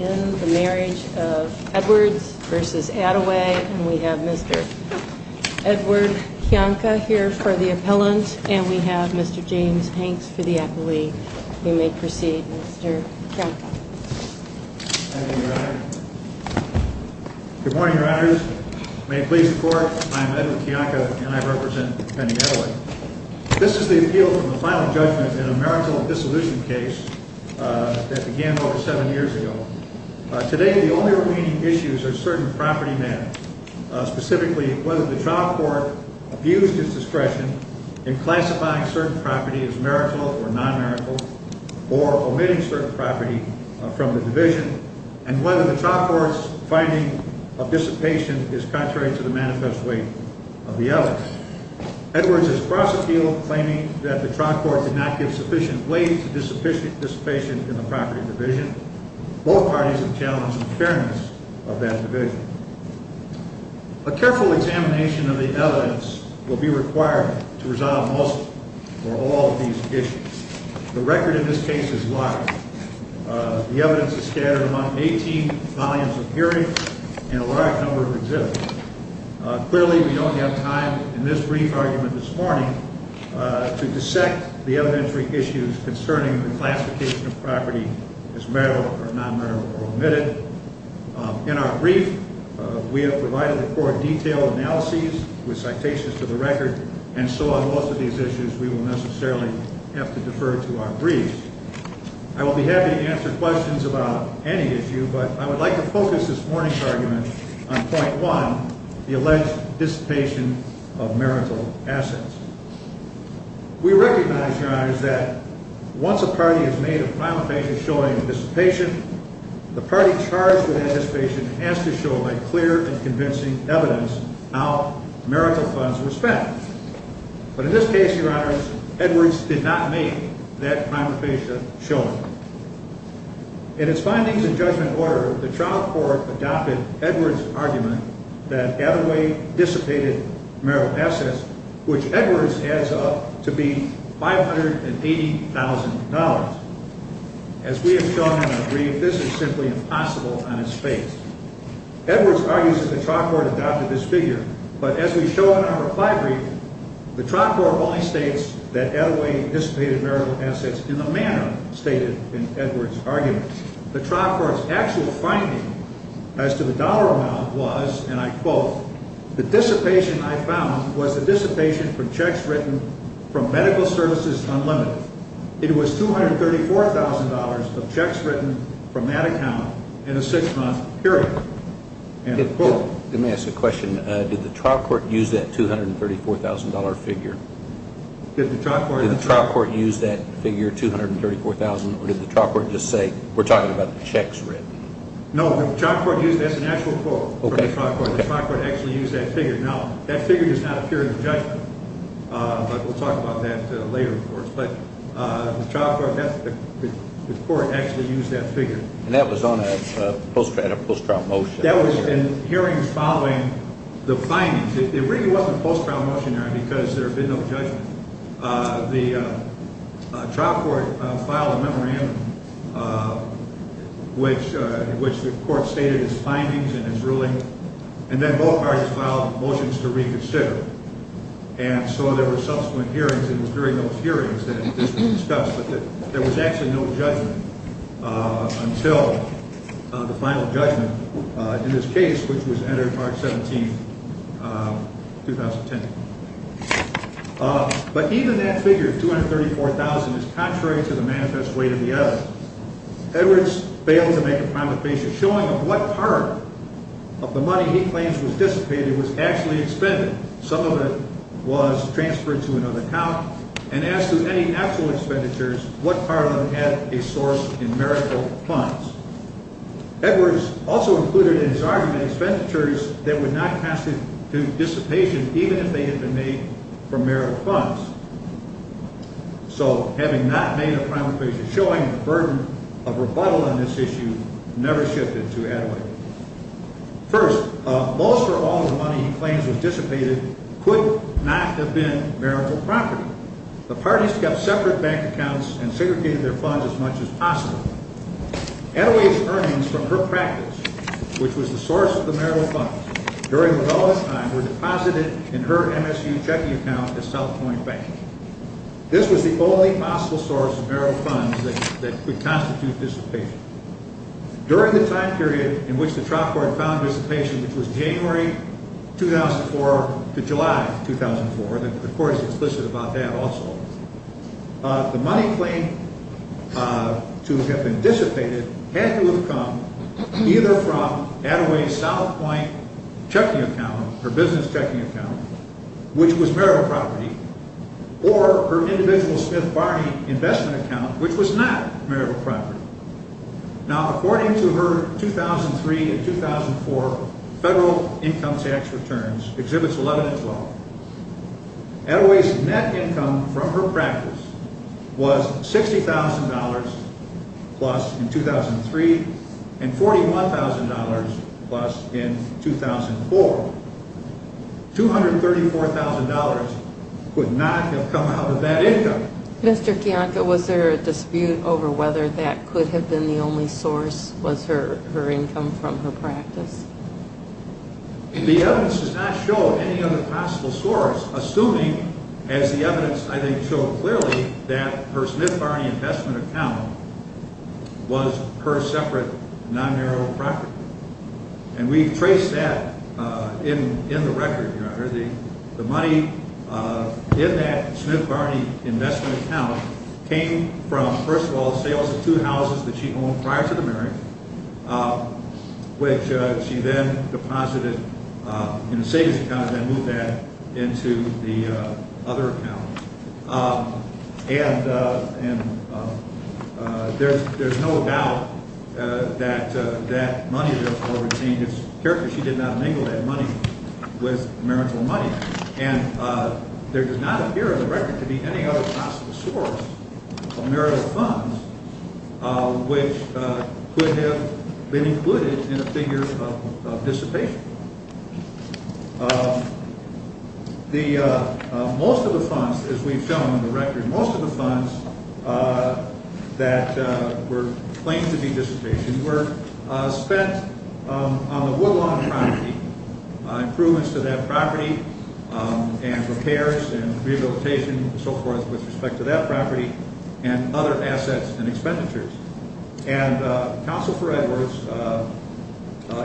v. Attaway, and we have Mr. Edward Kiyonka here for the appellant, and we have Mr. James Hanks for the appellee. You may proceed, Mr. Kiyonka. Thank you, Your Honor. Good morning, Your Honors. May it please the Court, I am Edward Kiyonka, and I represent Penny Attaway. This is the appeal from the final judgment in a marginal dissolution case that began over seven years ago. Today, the only remaining issues are certain property matters, specifically whether the trial court abused its discretion in classifying certain property as marital or non-marital, or omitting certain property from the division, and whether the trial court's finding of dissipation is contrary to the manifest weight of the evidence. Edwards is cross-appealed, claiming that the trial court did not give sufficient weight to dissipation in the property division. Both parties have challenged the fairness of that division. A careful examination of the evidence will be required to resolve most or all of these issues. The record in this case is large. The evidence is scattered among 18 volumes of hearings and a large number of exhibits. Clearly, we don't have time in this brief argument this morning to dissect the evidentiary issues concerning the classification of property as marital or non-marital or omitted. In our brief, we have provided the Court detailed analyses with citations to the record, and so on most of these issues we will necessarily have to defer to our briefs. I will be happy to answer questions about any issue, but I would like to focus this morning's argument on point one, the alleged dissipation of marital assets. We recognize, Your Honors, that once a party has made a prima facie showing of dissipation, the party charged with that dissipation has to show by clear and convincing evidence how marital funds were spent. But in this case, Your Honors, Edwards did not make that prima facie showing. In its findings and judgment order, the trial court adopted Edwards' argument that Attaway dissipated marital assets, which Edwards adds up to be $580,000. As we have shown in our brief, this is simply impossible on its face. Edwards argues that the trial court adopted this figure, but as we show in our reply brief, the trial court only states that Attaway dissipated marital assets in the manner stated in Edwards' argument. The trial court's actual finding as to the dollar amount was, and I quote, the dissipation I found was the dissipation from checks written from Medical Services Unlimited. It was $234,000 of checks written from that account in a six-month period. Let me ask a question. Did the trial court use that $234,000 figure? Did the trial court use that figure, $234,000, or did the trial court just say, we're talking about checks written? No, the trial court used that as an actual quote. The trial court actually used that figure. Now, that figure does not appear in the judgment, but we'll talk about that later, of course. But the trial court, the court actually used that figure. And that was on a post-trial motion. That was in hearings following the findings. It really wasn't a post-trial motion, Aaron, because there had been no judgment. The trial court filed a memorandum in which the court stated its findings and its ruling, and then both parties filed motions to reconsider. And so there were subsequent hearings, and it was during those hearings that it was discussed, but there was actually no judgment until the final judgment in this case, which was entered March 17, 2010. But even that figure, $234,000, is contrary to the manifest way to the other. Edwards failed to make a promulgation showing of what part of the money he claims was dissipated was actually expended. Some of it was transferred to another account, and as to any actual expenditures, what part of it had a source in marital funds. Edwards also included in his argument expenditures that would not constitute dissipation, even if they had been made from marital funds. So having not made a promulgation showing the burden of rebuttal on this issue never shifted to Attaway. First, most or all of the money he claims was dissipated could not have been marital property. The parties kept separate bank accounts and segregated their funds as much as possible. Attaway's earnings from her practice, which was the source of the marital funds, during the relevant time were deposited in her MSU checking account at South Point Bank. This was the only possible source of marital funds that could constitute dissipation. During the time period in which the trial court found dissipation, which was January 2004 to July 2004, the court is explicit about that also, the money claimed to have been dissipated had to have come either from Attaway's South Point checking account, her business checking account, which was marital property, or her individual Smith Barney investment account, which was not marital property. Now, according to her 2003 and 2004 federal income tax returns, Exhibits 11 and 12, Attaway's net income from her practice was $60,000 plus in 2003 and $41,000 plus in 2004. $234,000 would not have come out of that income. Mr. Kiyanka, was there a dispute over whether that could have been the only source, was her income from her practice? The evidence does not show any other possible source, assuming, as the evidence I think showed clearly, that her Smith Barney investment account was her separate non-marital property. And we've traced that in the record, Your Honor. The money in that Smith Barney investment account came from, first of all, sales of two houses that she owned prior to the marriage, which she then deposited in the savings account and then moved that into the other account. And there's no doubt that that money, therefore, would change its character. She did not mingle that money with marital money. And there does not appear in the record to be any other possible source of marital funds which could have been included in a figure of dissipation. Most of the funds, as we've shown in the record, most of the funds that were claimed to be dissipation were spent on the Woodlawn property, improvements to that property and repairs and rehabilitation and so forth with respect to that property and other assets and expenditures. And Counsel for Edwards,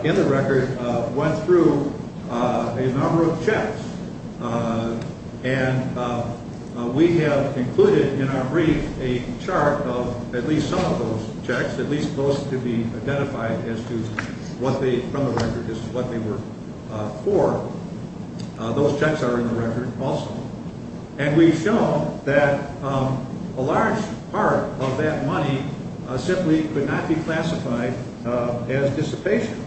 in the record, went through a number of checks. And we have included in our brief a chart of at least some of those checks, at least those to be identified as to what they, from the record, as to what they were for. Those checks are in the record also. And we've shown that a large part of that money simply could not be classified as dissipation.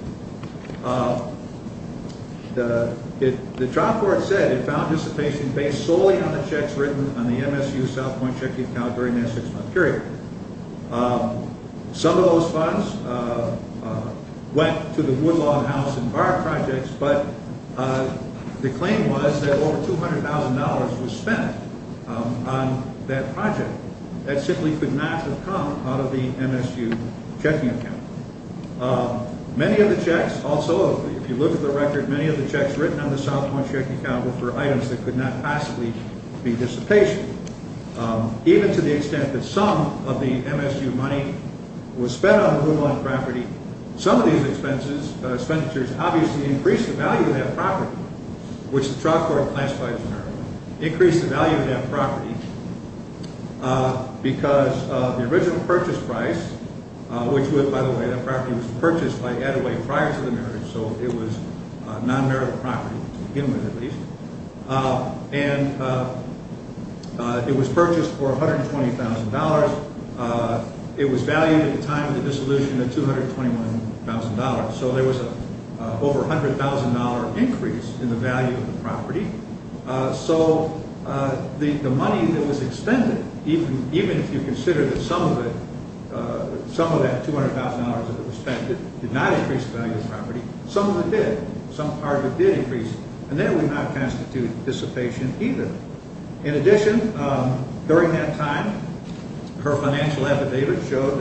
The trial court said it found dissipation based solely on the checks written on the MSU South Point Checking Account during that six-month period. Some of those funds went to the on that project. That simply could not have come out of the MSU checking account. Many of the checks also, if you look at the record, many of the checks written on the South Point Checking Account were for items that could not possibly be dissipation. Even to the extent that some of the MSU money was spent on the Woodlawn property, some of these expenses, expenditures obviously increased the value of that property, which the trial court classified as merit. Increased the value of that property because the original purchase price, which by the way that property was purchased by Attaway prior to the marriage, so it was non-merit property, to begin with at least. And it was purchased for $120,000. It was valued at the time of the over $100,000 increase in the value of the property. So the money that was extended, even if you consider that some of that $200,000 that was spent did not increase the value of the property, some of it did. Some part of it did increase. And that would not constitute dissipation either. In addition, during that time, her financial affidavit showed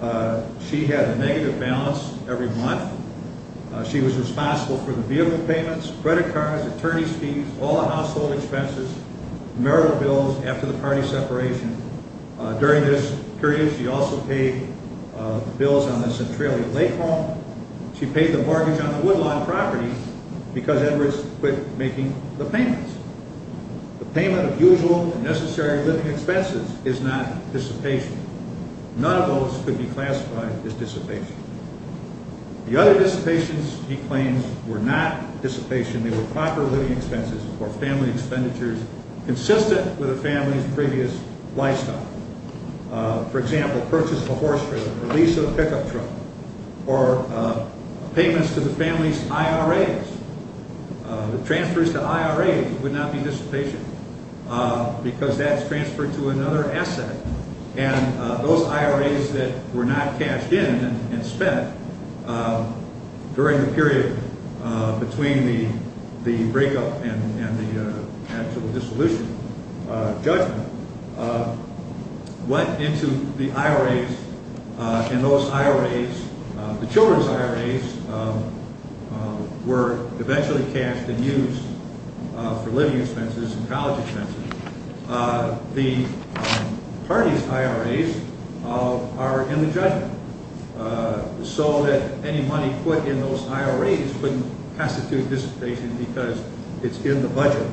that she had a negative balance every month. She was responsible for the vehicle payments, credit cards, attorney's fees, all household expenses, marital bills after the party separation. During this period she also paid bills on the Centralia Lake home. She paid the mortgage on the Woodlawn property because Edwards quit making the payments. The payment of usual and necessary living expenses is not dissipation. None of those could be classified as dissipation. The other dissipations, he claims, were not dissipation. They were proper living expenses or family expenditures consistent with the family's previous lifestyle. For example, purchase of a horse trailer, lease of a pickup truck, or payments to the family's IRAs. The transfers to IRAs would not be dissipation because that's transferred to another asset. And those IRAs that were not cashed in and spent during the period between the breakup and the actual dissolution judgment went into the IRAs and those IRAs, the children's IRAs, were eventually cashed and used for living expenses and college expenses. The party's IRAs are in the judgment. So that any money put in those IRAs wouldn't have to do dissipation because it's in the budget.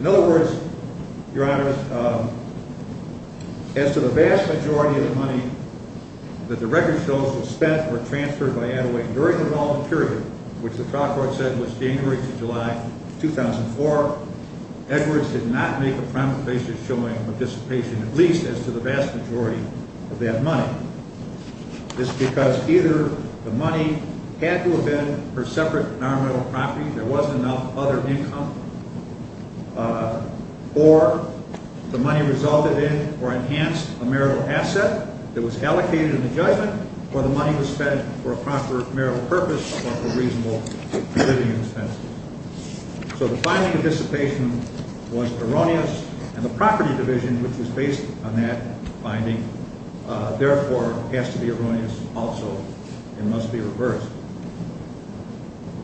In other words, Your Honor, as to the vast majority of the money that the record shows was spent or transferred by Attaway during the voluntary period, which the trial court said was January to July 2004, Edwards did not make a primary basis showing dissipation, at least as to the vast majority of that money. It's because either the money had to have been for separate nominal property, there wasn't enough other income, or the money resulted in or enhanced a marital asset that was allocated in the judgment, or the money was spent for a proper marital purpose or for reasonable living expenses. So the finding of dissipation was erroneous and the property division, which was based on that finding, therefore, has to be erroneous also and must be reversed.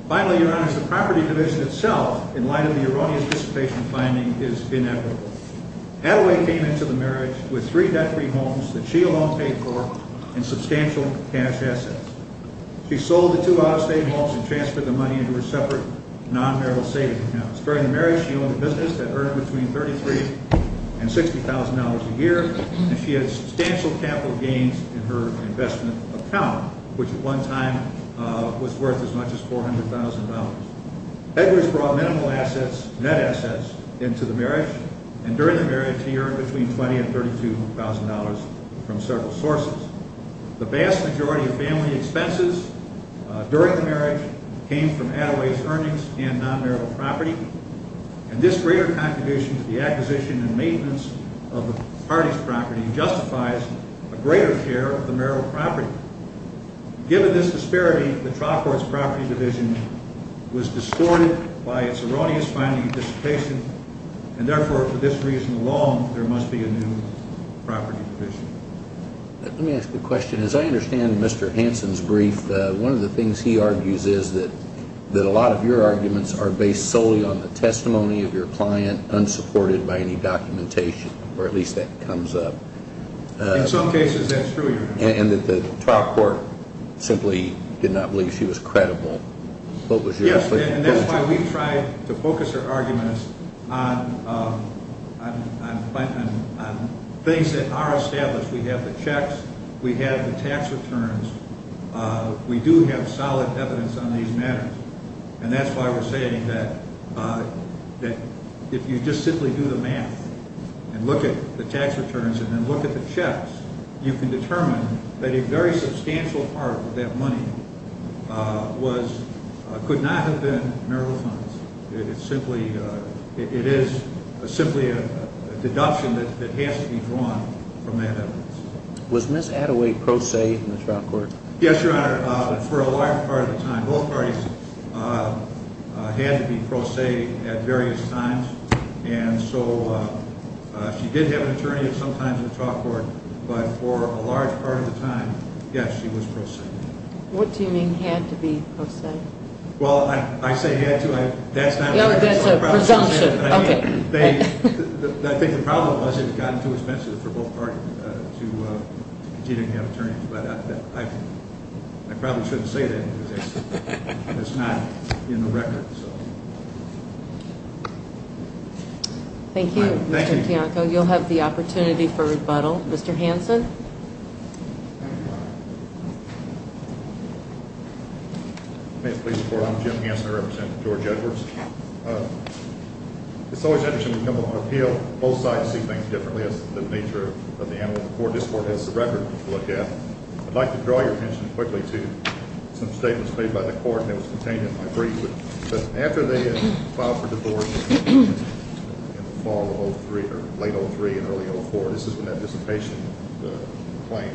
Finally, Your Honor, the property division itself, in light of the erroneous dissipation finding, is inevitable. Attaway came into the marriage with three debt-free homes that she alone paid for and substantial cash assets. She sold the two out-of-state homes and transferred the money into her separate non-marital savings accounts. During the marriage, she owned a business that earned between $33,000 and $60,000 a year, and she had substantial capital gains in her investment account, which at one time was worth as much as $400,000. Edwards brought minimal assets, net assets, into the marriage, and during the marriage, she earned between $20,000 and $32,000 from several sources. The vast majority of family expenses during the marriage came from Attaway's earnings and non-marital property, and this greater contribution to the acquisition and maintenance of the party's property justifies a greater share of the marital property. Given this disparity, the trial court's property division was distorted by its erroneous finding of dissipation, and therefore, for this reason alone, there must be a new property division. Let me ask a question. As I understand Mr. Hansen's brief, one of the things he argues is that a lot of your arguments are based solely on the testimony of your client, unsupported by any documentation, or at least that comes up. In some cases, that's true, Your Honor. And that the trial court simply did not believe she was credible. Yes, and that's why we've tried to focus our arguments on things that are established. We have the checks. We have the tax returns. We do have solid evidence on these matters, and that's why we're saying that if you just simply do the math and look at the tax returns and then look at the checks, you can determine that a very substantial part of that money could not have been marital funds. It is simply a deduction that has to be drawn from that evidence. Was Ms. Attaway pro se in the trial court? Yes, Your Honor. For a large part of the time, both parties had to be pro se at various times, and so she did have an attorney at some times in the trial court, but for a large part of the time, yes, she was pro se. What do you mean, had to be pro se? Well, I say had to. That's a presumption. I think the problem was it had gotten too expensive for both parties to continue to have attorneys, but I probably shouldn't say that because it's not in the record. Thank you, Mr. Bianco. You'll have the opportunity for rebuttal. Mr. Hanson? May it please the Court, I'm Jim Hanson. I represent George Edwards. It's always interesting to come on appeal. Both sides see things differently as to the nature of the animal. This Court has the record to look at. I'd like to draw your attention quickly to some statements made by the Court that was contained in my brief. After they had filed for divorce in the fall of late 2003 and early 2004, this is when that dissipation claim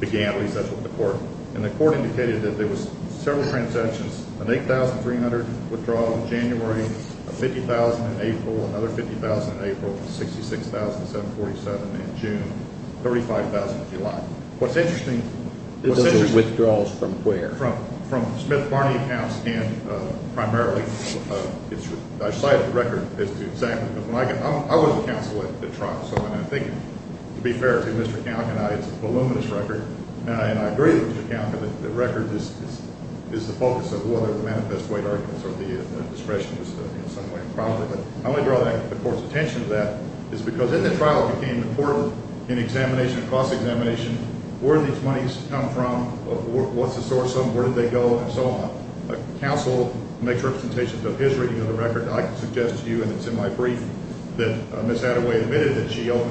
began with the Court, and the Court indicated that there was several transactions, an 8,300 withdrawal in January, 50,000 in April, another 50,000 in April, 66,747 in June, 35,000 in July. What's interesting is the withdrawals from where? From Smith-Barney accounts and primarily I cite the record as to exactly. I was a counsel at trial, so I'm thinking, to be fair to Mr. Kalkin, it's a voluminous record, and I agree with Mr. Kalkin that the record is the focus of whether the manifest weight arguments or the discretion is in some way improper. But I want to draw the Court's attention to that, because in the trial it became important in examination, cross-examination, where did these monies come from, what's the source of them, where did they go, and so on. A counsel makes representations of his reading of the record. I can suggest to you, and it's in my brief, that Ms. Attaway admitted that she owned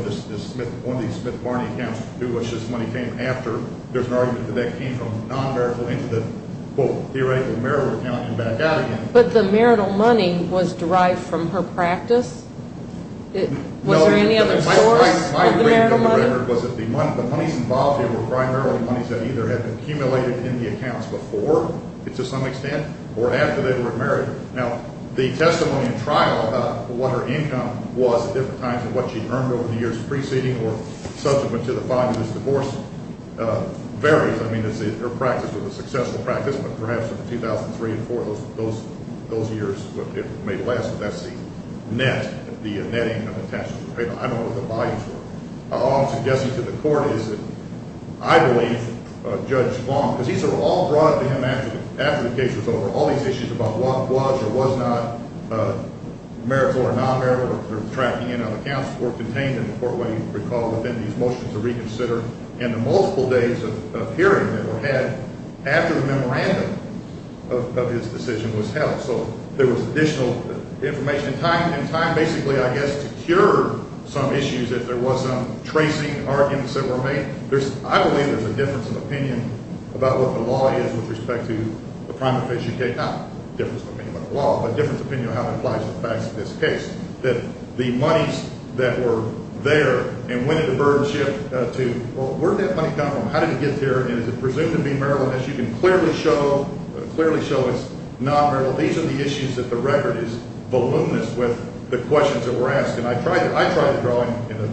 one of these Smith-Barney accounts, to which this money came after. There's an argument that that came from non-marital into the, quote, theoretical marital account and back out again. But the marital money was derived from her practice? Was there any other source of the marital money? My reading of the record was that the monies involved here were primarily monies that either had been accumulated in the accounts before, to some extent, or after they were married. Now, the testimony in trial about what her income was at different times and what she earned over the years preceding or subsequent to the filing of this divorce varies. I mean, her practice was a successful practice, but perhaps in 2003 and 2004, those years, it may last, but that's the net, the netting of the taxes. I don't know what the volumes were. All I'm suggesting to the Court is that I believe Judge Long, because these are all brought up to him after the case was over, all these issues about what was or was not marital or non-marital or tracking in on accounts were contained in the court when he recalled within these motions to reconsider, and the multiple days of hearing that were had after the memorandum of his decision was held. So there was additional information in time, basically, I guess, to cure some issues, if there was some tracing arguments that were made. I believe there's a difference of opinion about what the law is with respect to the primary phase UK. Not a difference of opinion on the law, but a difference of opinion on how it applies to the facts of this case, that the monies that were there and when did the burden shift to, well, where did that money come from? How did it get there, and is it presumed to be marital? As you can clearly show, clearly show it's non-marital. These are the issues that the record is voluminous with the questions that were asked, and I tried to draw in a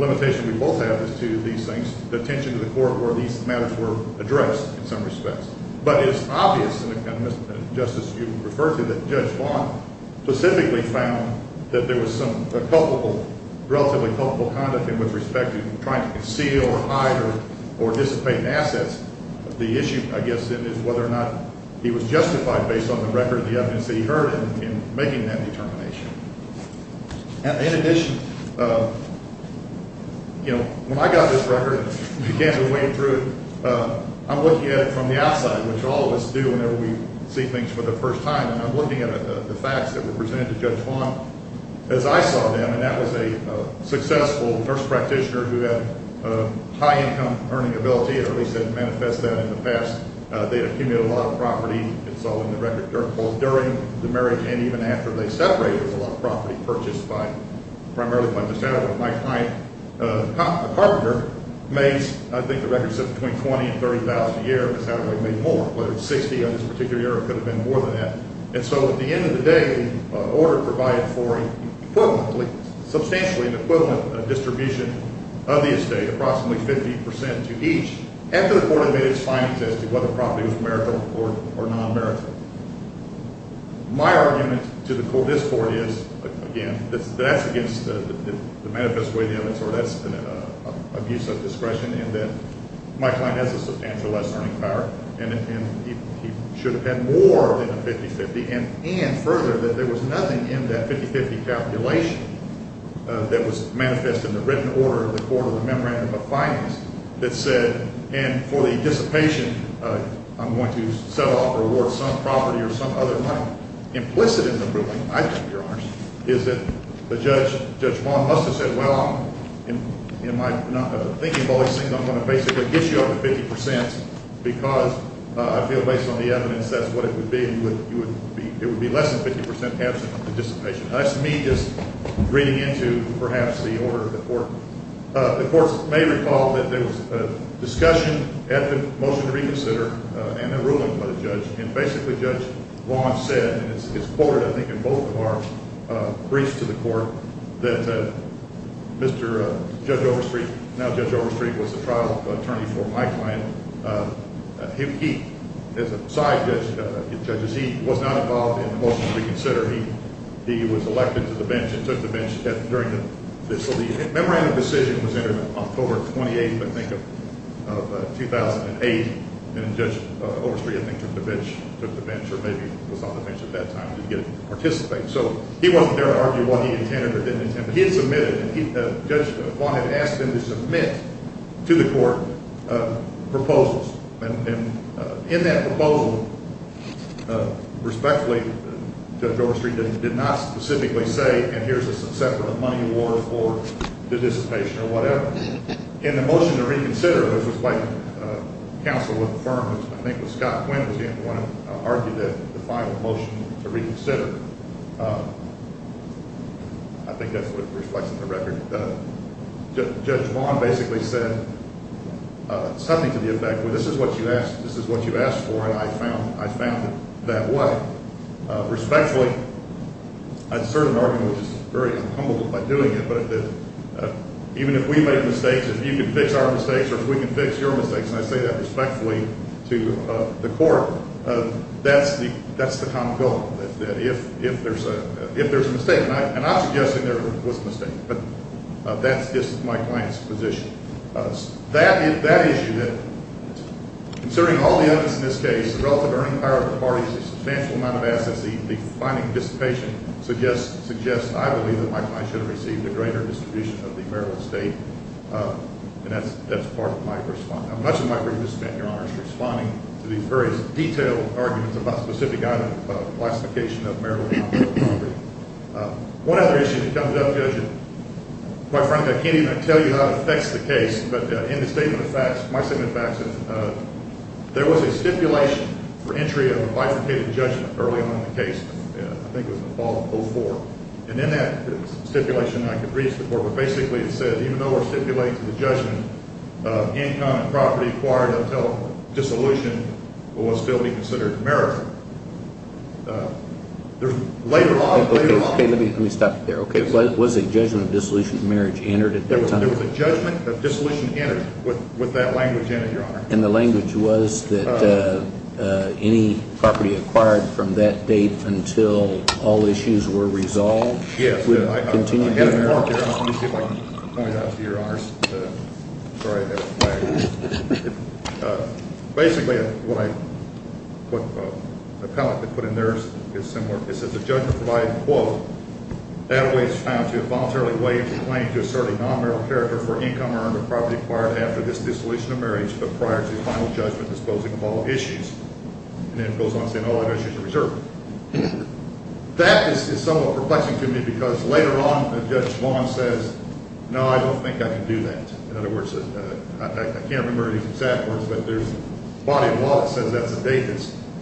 limitation we both have as to these things, the attention to the court where these matters were addressed in some respects. But it's obvious, and, Justice, you refer to that Judge Vaughn specifically found that there was some culpable, relatively culpable conduct in which respect to trying to conceal or hide or dissipate assets. The issue, I guess, then, is whether or not he was justified based on the record and the evidence that he heard in making that determination. In addition, you know, when I got this record and began to wade through it, I'm looking at it from the outside, which all of us do whenever we see things for the first time, and I'm looking at the facts that were presented to Judge Vaughn as I saw them, and that was a successful nurse practitioner who had high-income earning ability, or at least had manifested that in the past. They accumulated a lot of property, it's all in the record, both during the marriage and even after they separated a lot of property purchased by primarily by Miss Haddaway. My client, the carpenter, made, I think the record said, between $20,000 and $30,000 a year. Miss Haddaway made more. Whether it was $60,000 on this particular year or it could have been more than that. And so at the end of the day, the order provided for a substantially equivalent distribution of the estate, approximately 50 percent to each, after the court had made its findings as to whether the property was marital or non-marital. My argument to this court is, again, that's against the manifest way of the evidence, or that's an abuse of discretion in that my client has a substantial less earning power, and he should have had more than a 50-50, and further, that there was nothing in that 50-50 calculation that was manifest in the written order of the court or the memorandum of findings that said, and for the dissipation, I'm going to set off or award some property or some other money. Implicit in the ruling, I think, Your Honors, is that the judge, Judge Vaughn, must have said, well, in my thinking of all these things, I'm going to basically get you up to 50 percent, because I feel, based on the evidence, that's what it would be. It would be less than 50 percent absent from the dissipation. That's me just reading into, perhaps, the order of the court. The court may recall that there was a discussion at the motion to reconsider and a ruling by the judge, and basically Judge Vaughn said, and it's quoted, I think, in both of our briefs to the court, that Mr. Judge Overstreet, now Judge Overstreet, was the trial attorney for my client. He, as a side judge, as he was not involved in the motion to reconsider, he was elected to the bench and took the bench during the lead. The memorandum decision was entered on October 28th, I think, of 2008, and Judge Overstreet, I think, took the bench or maybe was on the bench at that time and didn't get to participate. So he wasn't there to argue what he intended or didn't intend, but he had submitted, and Judge Vaughn had asked him to submit to the court proposals. And in that proposal, respectfully, Judge Overstreet did not specifically say, and here's a separate money award for the dissipation or whatever. In the motion to reconsider, it was like counsel would affirm, I think it was Scott Quinn was the one who argued the final motion to reconsider. I think that's what it reflects in the record. Judge Vaughn basically said something to the effect, well, this is what you asked, this is what you asked for, and I found it that way. Respectfully, I'd certainly argue, and I'm humbled by doing it, but even if we make mistakes, if you can fix our mistakes or if we can fix your mistakes, and I say that respectfully to the court, that's the common goal, that if there's a mistake, and I'm not suggesting there was a mistake, but that's just my client's position. That issue, considering all the evidence in this case, the relative earning power of the parties, the substantial amount of assets, the finding of dissipation suggests, I believe, that my client should have received a greater distribution of the Maryland state, and that's part of my response. Much of my brief is spent, Your Honor, is responding to these various detailed arguments about specific items of classification of Maryland property. One other issue that comes up, Judge, my friend, I can't even tell you how it affects the case, but in the statement of facts, my statement of facts, there was a stipulation for entry of a bifurcated judgment early on in the case. I think it was in the fall of 2004, and in that stipulation, I could read it to the court, but basically it said even though we're stipulating the judgment, the income and property acquired until dissolution will still be considered marriage. Later on, later on. Okay, let me stop you there. Was a judgment of dissolution of marriage entered at that time? There was a judgment of dissolution entered with that language in it, Your Honor. And the language was that any property acquired from that date until all issues were resolved? Yes. Would it continue to be married? I haven't worked it out. Let me see if I can point it out to you, Your Honors. Sorry about that. Basically, what I put, what the appellate that put in there is similar. It says the judgment provided, quote, Appellate is found to have voluntarily waived the claim to assert a non-marital character for income earned or property acquired after this dissolution of marriage but prior to the final judgment disposing of all issues. And then it goes on to say all other issues are reserved. That is somewhat perplexing to me because later on Judge Vaughn says, no, I don't think I can do that. In other words, I can't remember the exact words, but there's a body of law that says that's a date.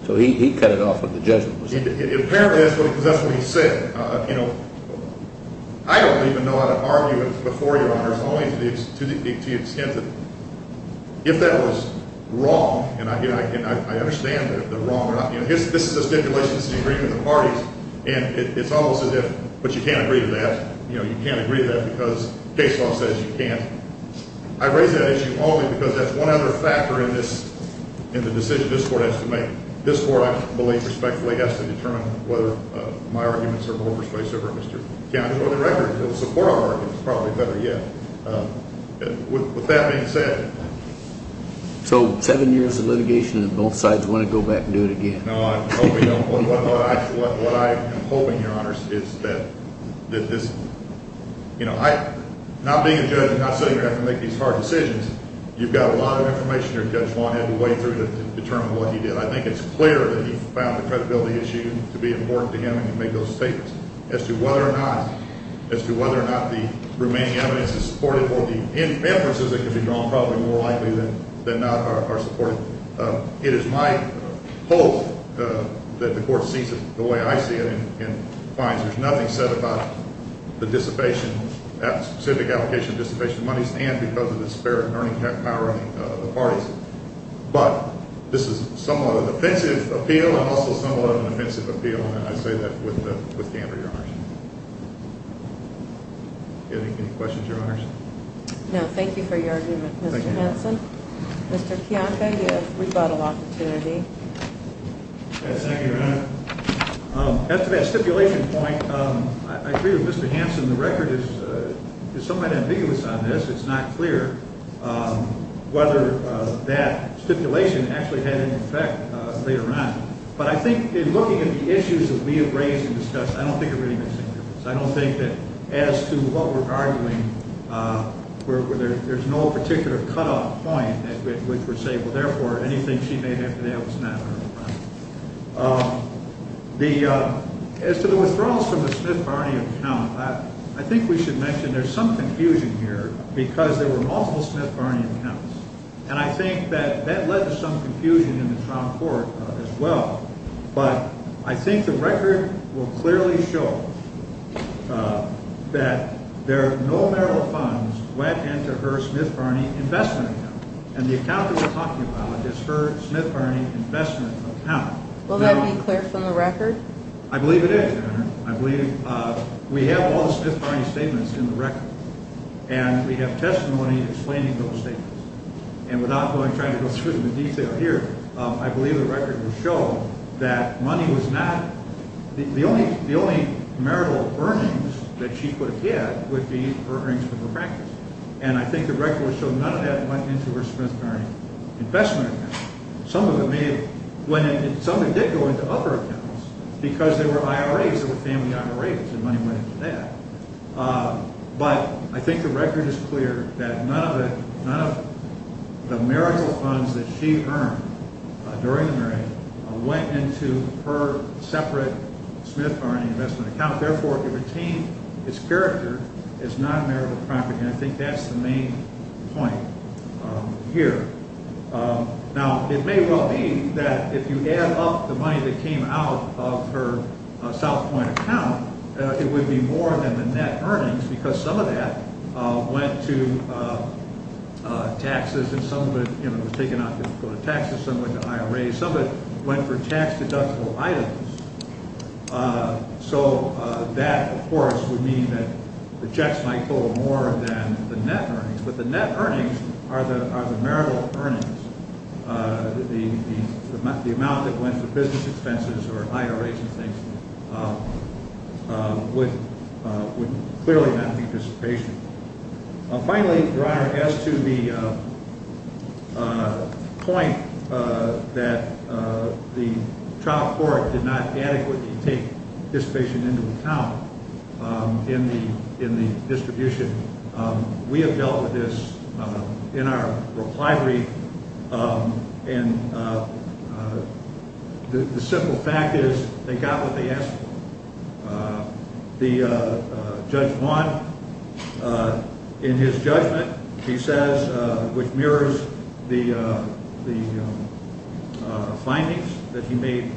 So he cut it off when the judgment was made. Apparently that's what he said. I don't even know how to argue it before you, Your Honors, only to the extent that if that was wrong, and I understand if they're wrong or not. This is a stipulation. This is an agreement of the parties. And it's almost as if, but you can't agree to that. You can't agree to that because case law says you can't. I raise that issue only because that's one other factor in the decision this Court has to make. To determine whether my arguments are more persuasive or Mr. Cownie's. For the record, the support argument is probably better, yeah. With that being said. So seven years of litigation and both sides want to go back and do it again. No, I hope we don't. What I am hoping, Your Honors, is that this, you know, I'm not being a judge. I'm not saying you have to make these hard decisions. You've got a lot of information that Judge Vaughn had to wade through to determine what he did. But I think it's clear that he found the credibility issue to be important to him and to make those statements. As to whether or not, as to whether or not the remaining evidence is supportive or the inferences that could be drawn probably more likely than not are supportive. It is my hope that the Court sees it the way I see it and finds there's nothing said about the dissipation, specific application of dissipation of money, and because of the spirit and earning power of the parties. But this is somewhat of an offensive appeal and also somewhat of an offensive appeal, and I say that with candor, Your Honors. Any questions, Your Honors? No, thank you for your argument, Mr. Hanson. Mr. Kiyanka, you have rebuttal opportunity. Yes, thank you, Your Honor. After that stipulation point, I agree with Mr. Hanson. The record is somewhat ambiguous on this. It's not clear whether that stipulation actually had any effect later on. But I think in looking at the issues that we have raised and discussed, I don't think it really makes any difference. I don't think that as to what we're arguing, there's no particular cutoff point at which we're saying, well, therefore, anything she may have to say was not heard. As to the withdrawals from the Smith party account, I think we should mention there's some confusion here because there were multiple Smith Barney accounts, and I think that that led to some confusion in the trial court as well. But I think the record will clearly show that there are no marital funds went into her Smith Barney investment account, and the account that we're talking about is her Smith Barney investment account. Will that be clear from the record? I believe it is, Your Honor. I believe we have all the Smith Barney statements in the record, and we have testimony explaining those statements. And without trying to go through them in detail here, I believe the record will show that money was not – the only marital earnings that she could have had would be her earnings from her practice. And I think the record will show none of that went into her Smith Barney investment account. Some of it may have – some of it did go into other accounts because there were IRAs that were family IRAs, and money went into that. But I think the record is clear that none of the marital funds that she earned during the marriage went into her separate Smith Barney investment account. Therefore, it retained its character as non-marital property, and I think that's the main point here. Now, it may well be that if you add up the money that came out of her South Point account, it would be more than the net earnings because some of that went to taxes, and some of it was taken out to go to taxes. Some went to IRAs. Some of it went for tax-deductible items. So that, of course, would mean that the checks might go more than the net earnings. But the net earnings are the marital earnings. The amount that went to business expenses or IRAs and things would clearly not be dissipation. Finally, Your Honor, as to the point that the trial court did not adequately take dissipation into account in the distribution, we have dealt with this in our reply brief, and the simple fact is they got what they asked for. Judge Vaughn, in his judgment, he says, which mirrors the findings that he made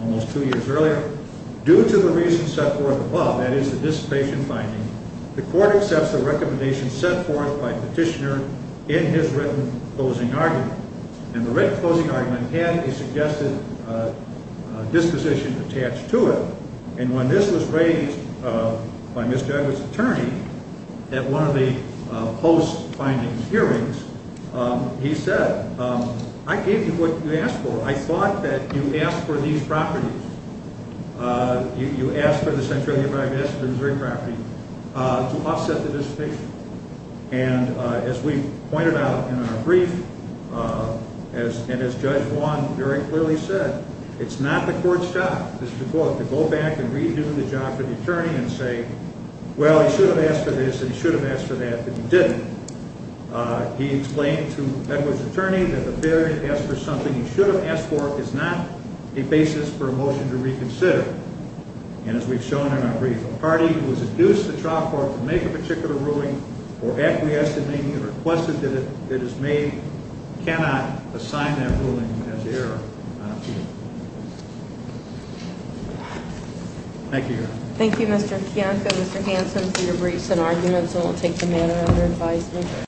almost two years earlier, due to the reasons set forth above, that is, the dissipation findings, the court accepts the recommendations set forth by Petitioner in his written closing argument. And the written closing argument had a suggested disposition attached to it, and when this was raised by Mr. Edwards' attorney at one of the post-findings hearings, he said, I gave you what you asked for. I thought that you asked for these properties. You asked for the Central Union Private Estates and the Missouri property to offset the dissipation. And as we pointed out in our brief, and as Judge Vaughn very clearly said, it's not the court's job, this is the court, to go back and redo the job for the attorney and say, well, he should have asked for this and he should have asked for that, but he didn't. He explained to Edwards' attorney that the failure to ask for something he should have asked for is not a basis for a motion to reconsider. And as we've shown in our brief, a party who has induced the trial court to make a particular ruling or acquiesced in any request that it has made cannot assign that ruling as error on appeal. Thank you, Your Honor. Thank you, Mr. Kiyanka. Mr. Hanson, for your briefs and arguments. I won't take the matter under advisement.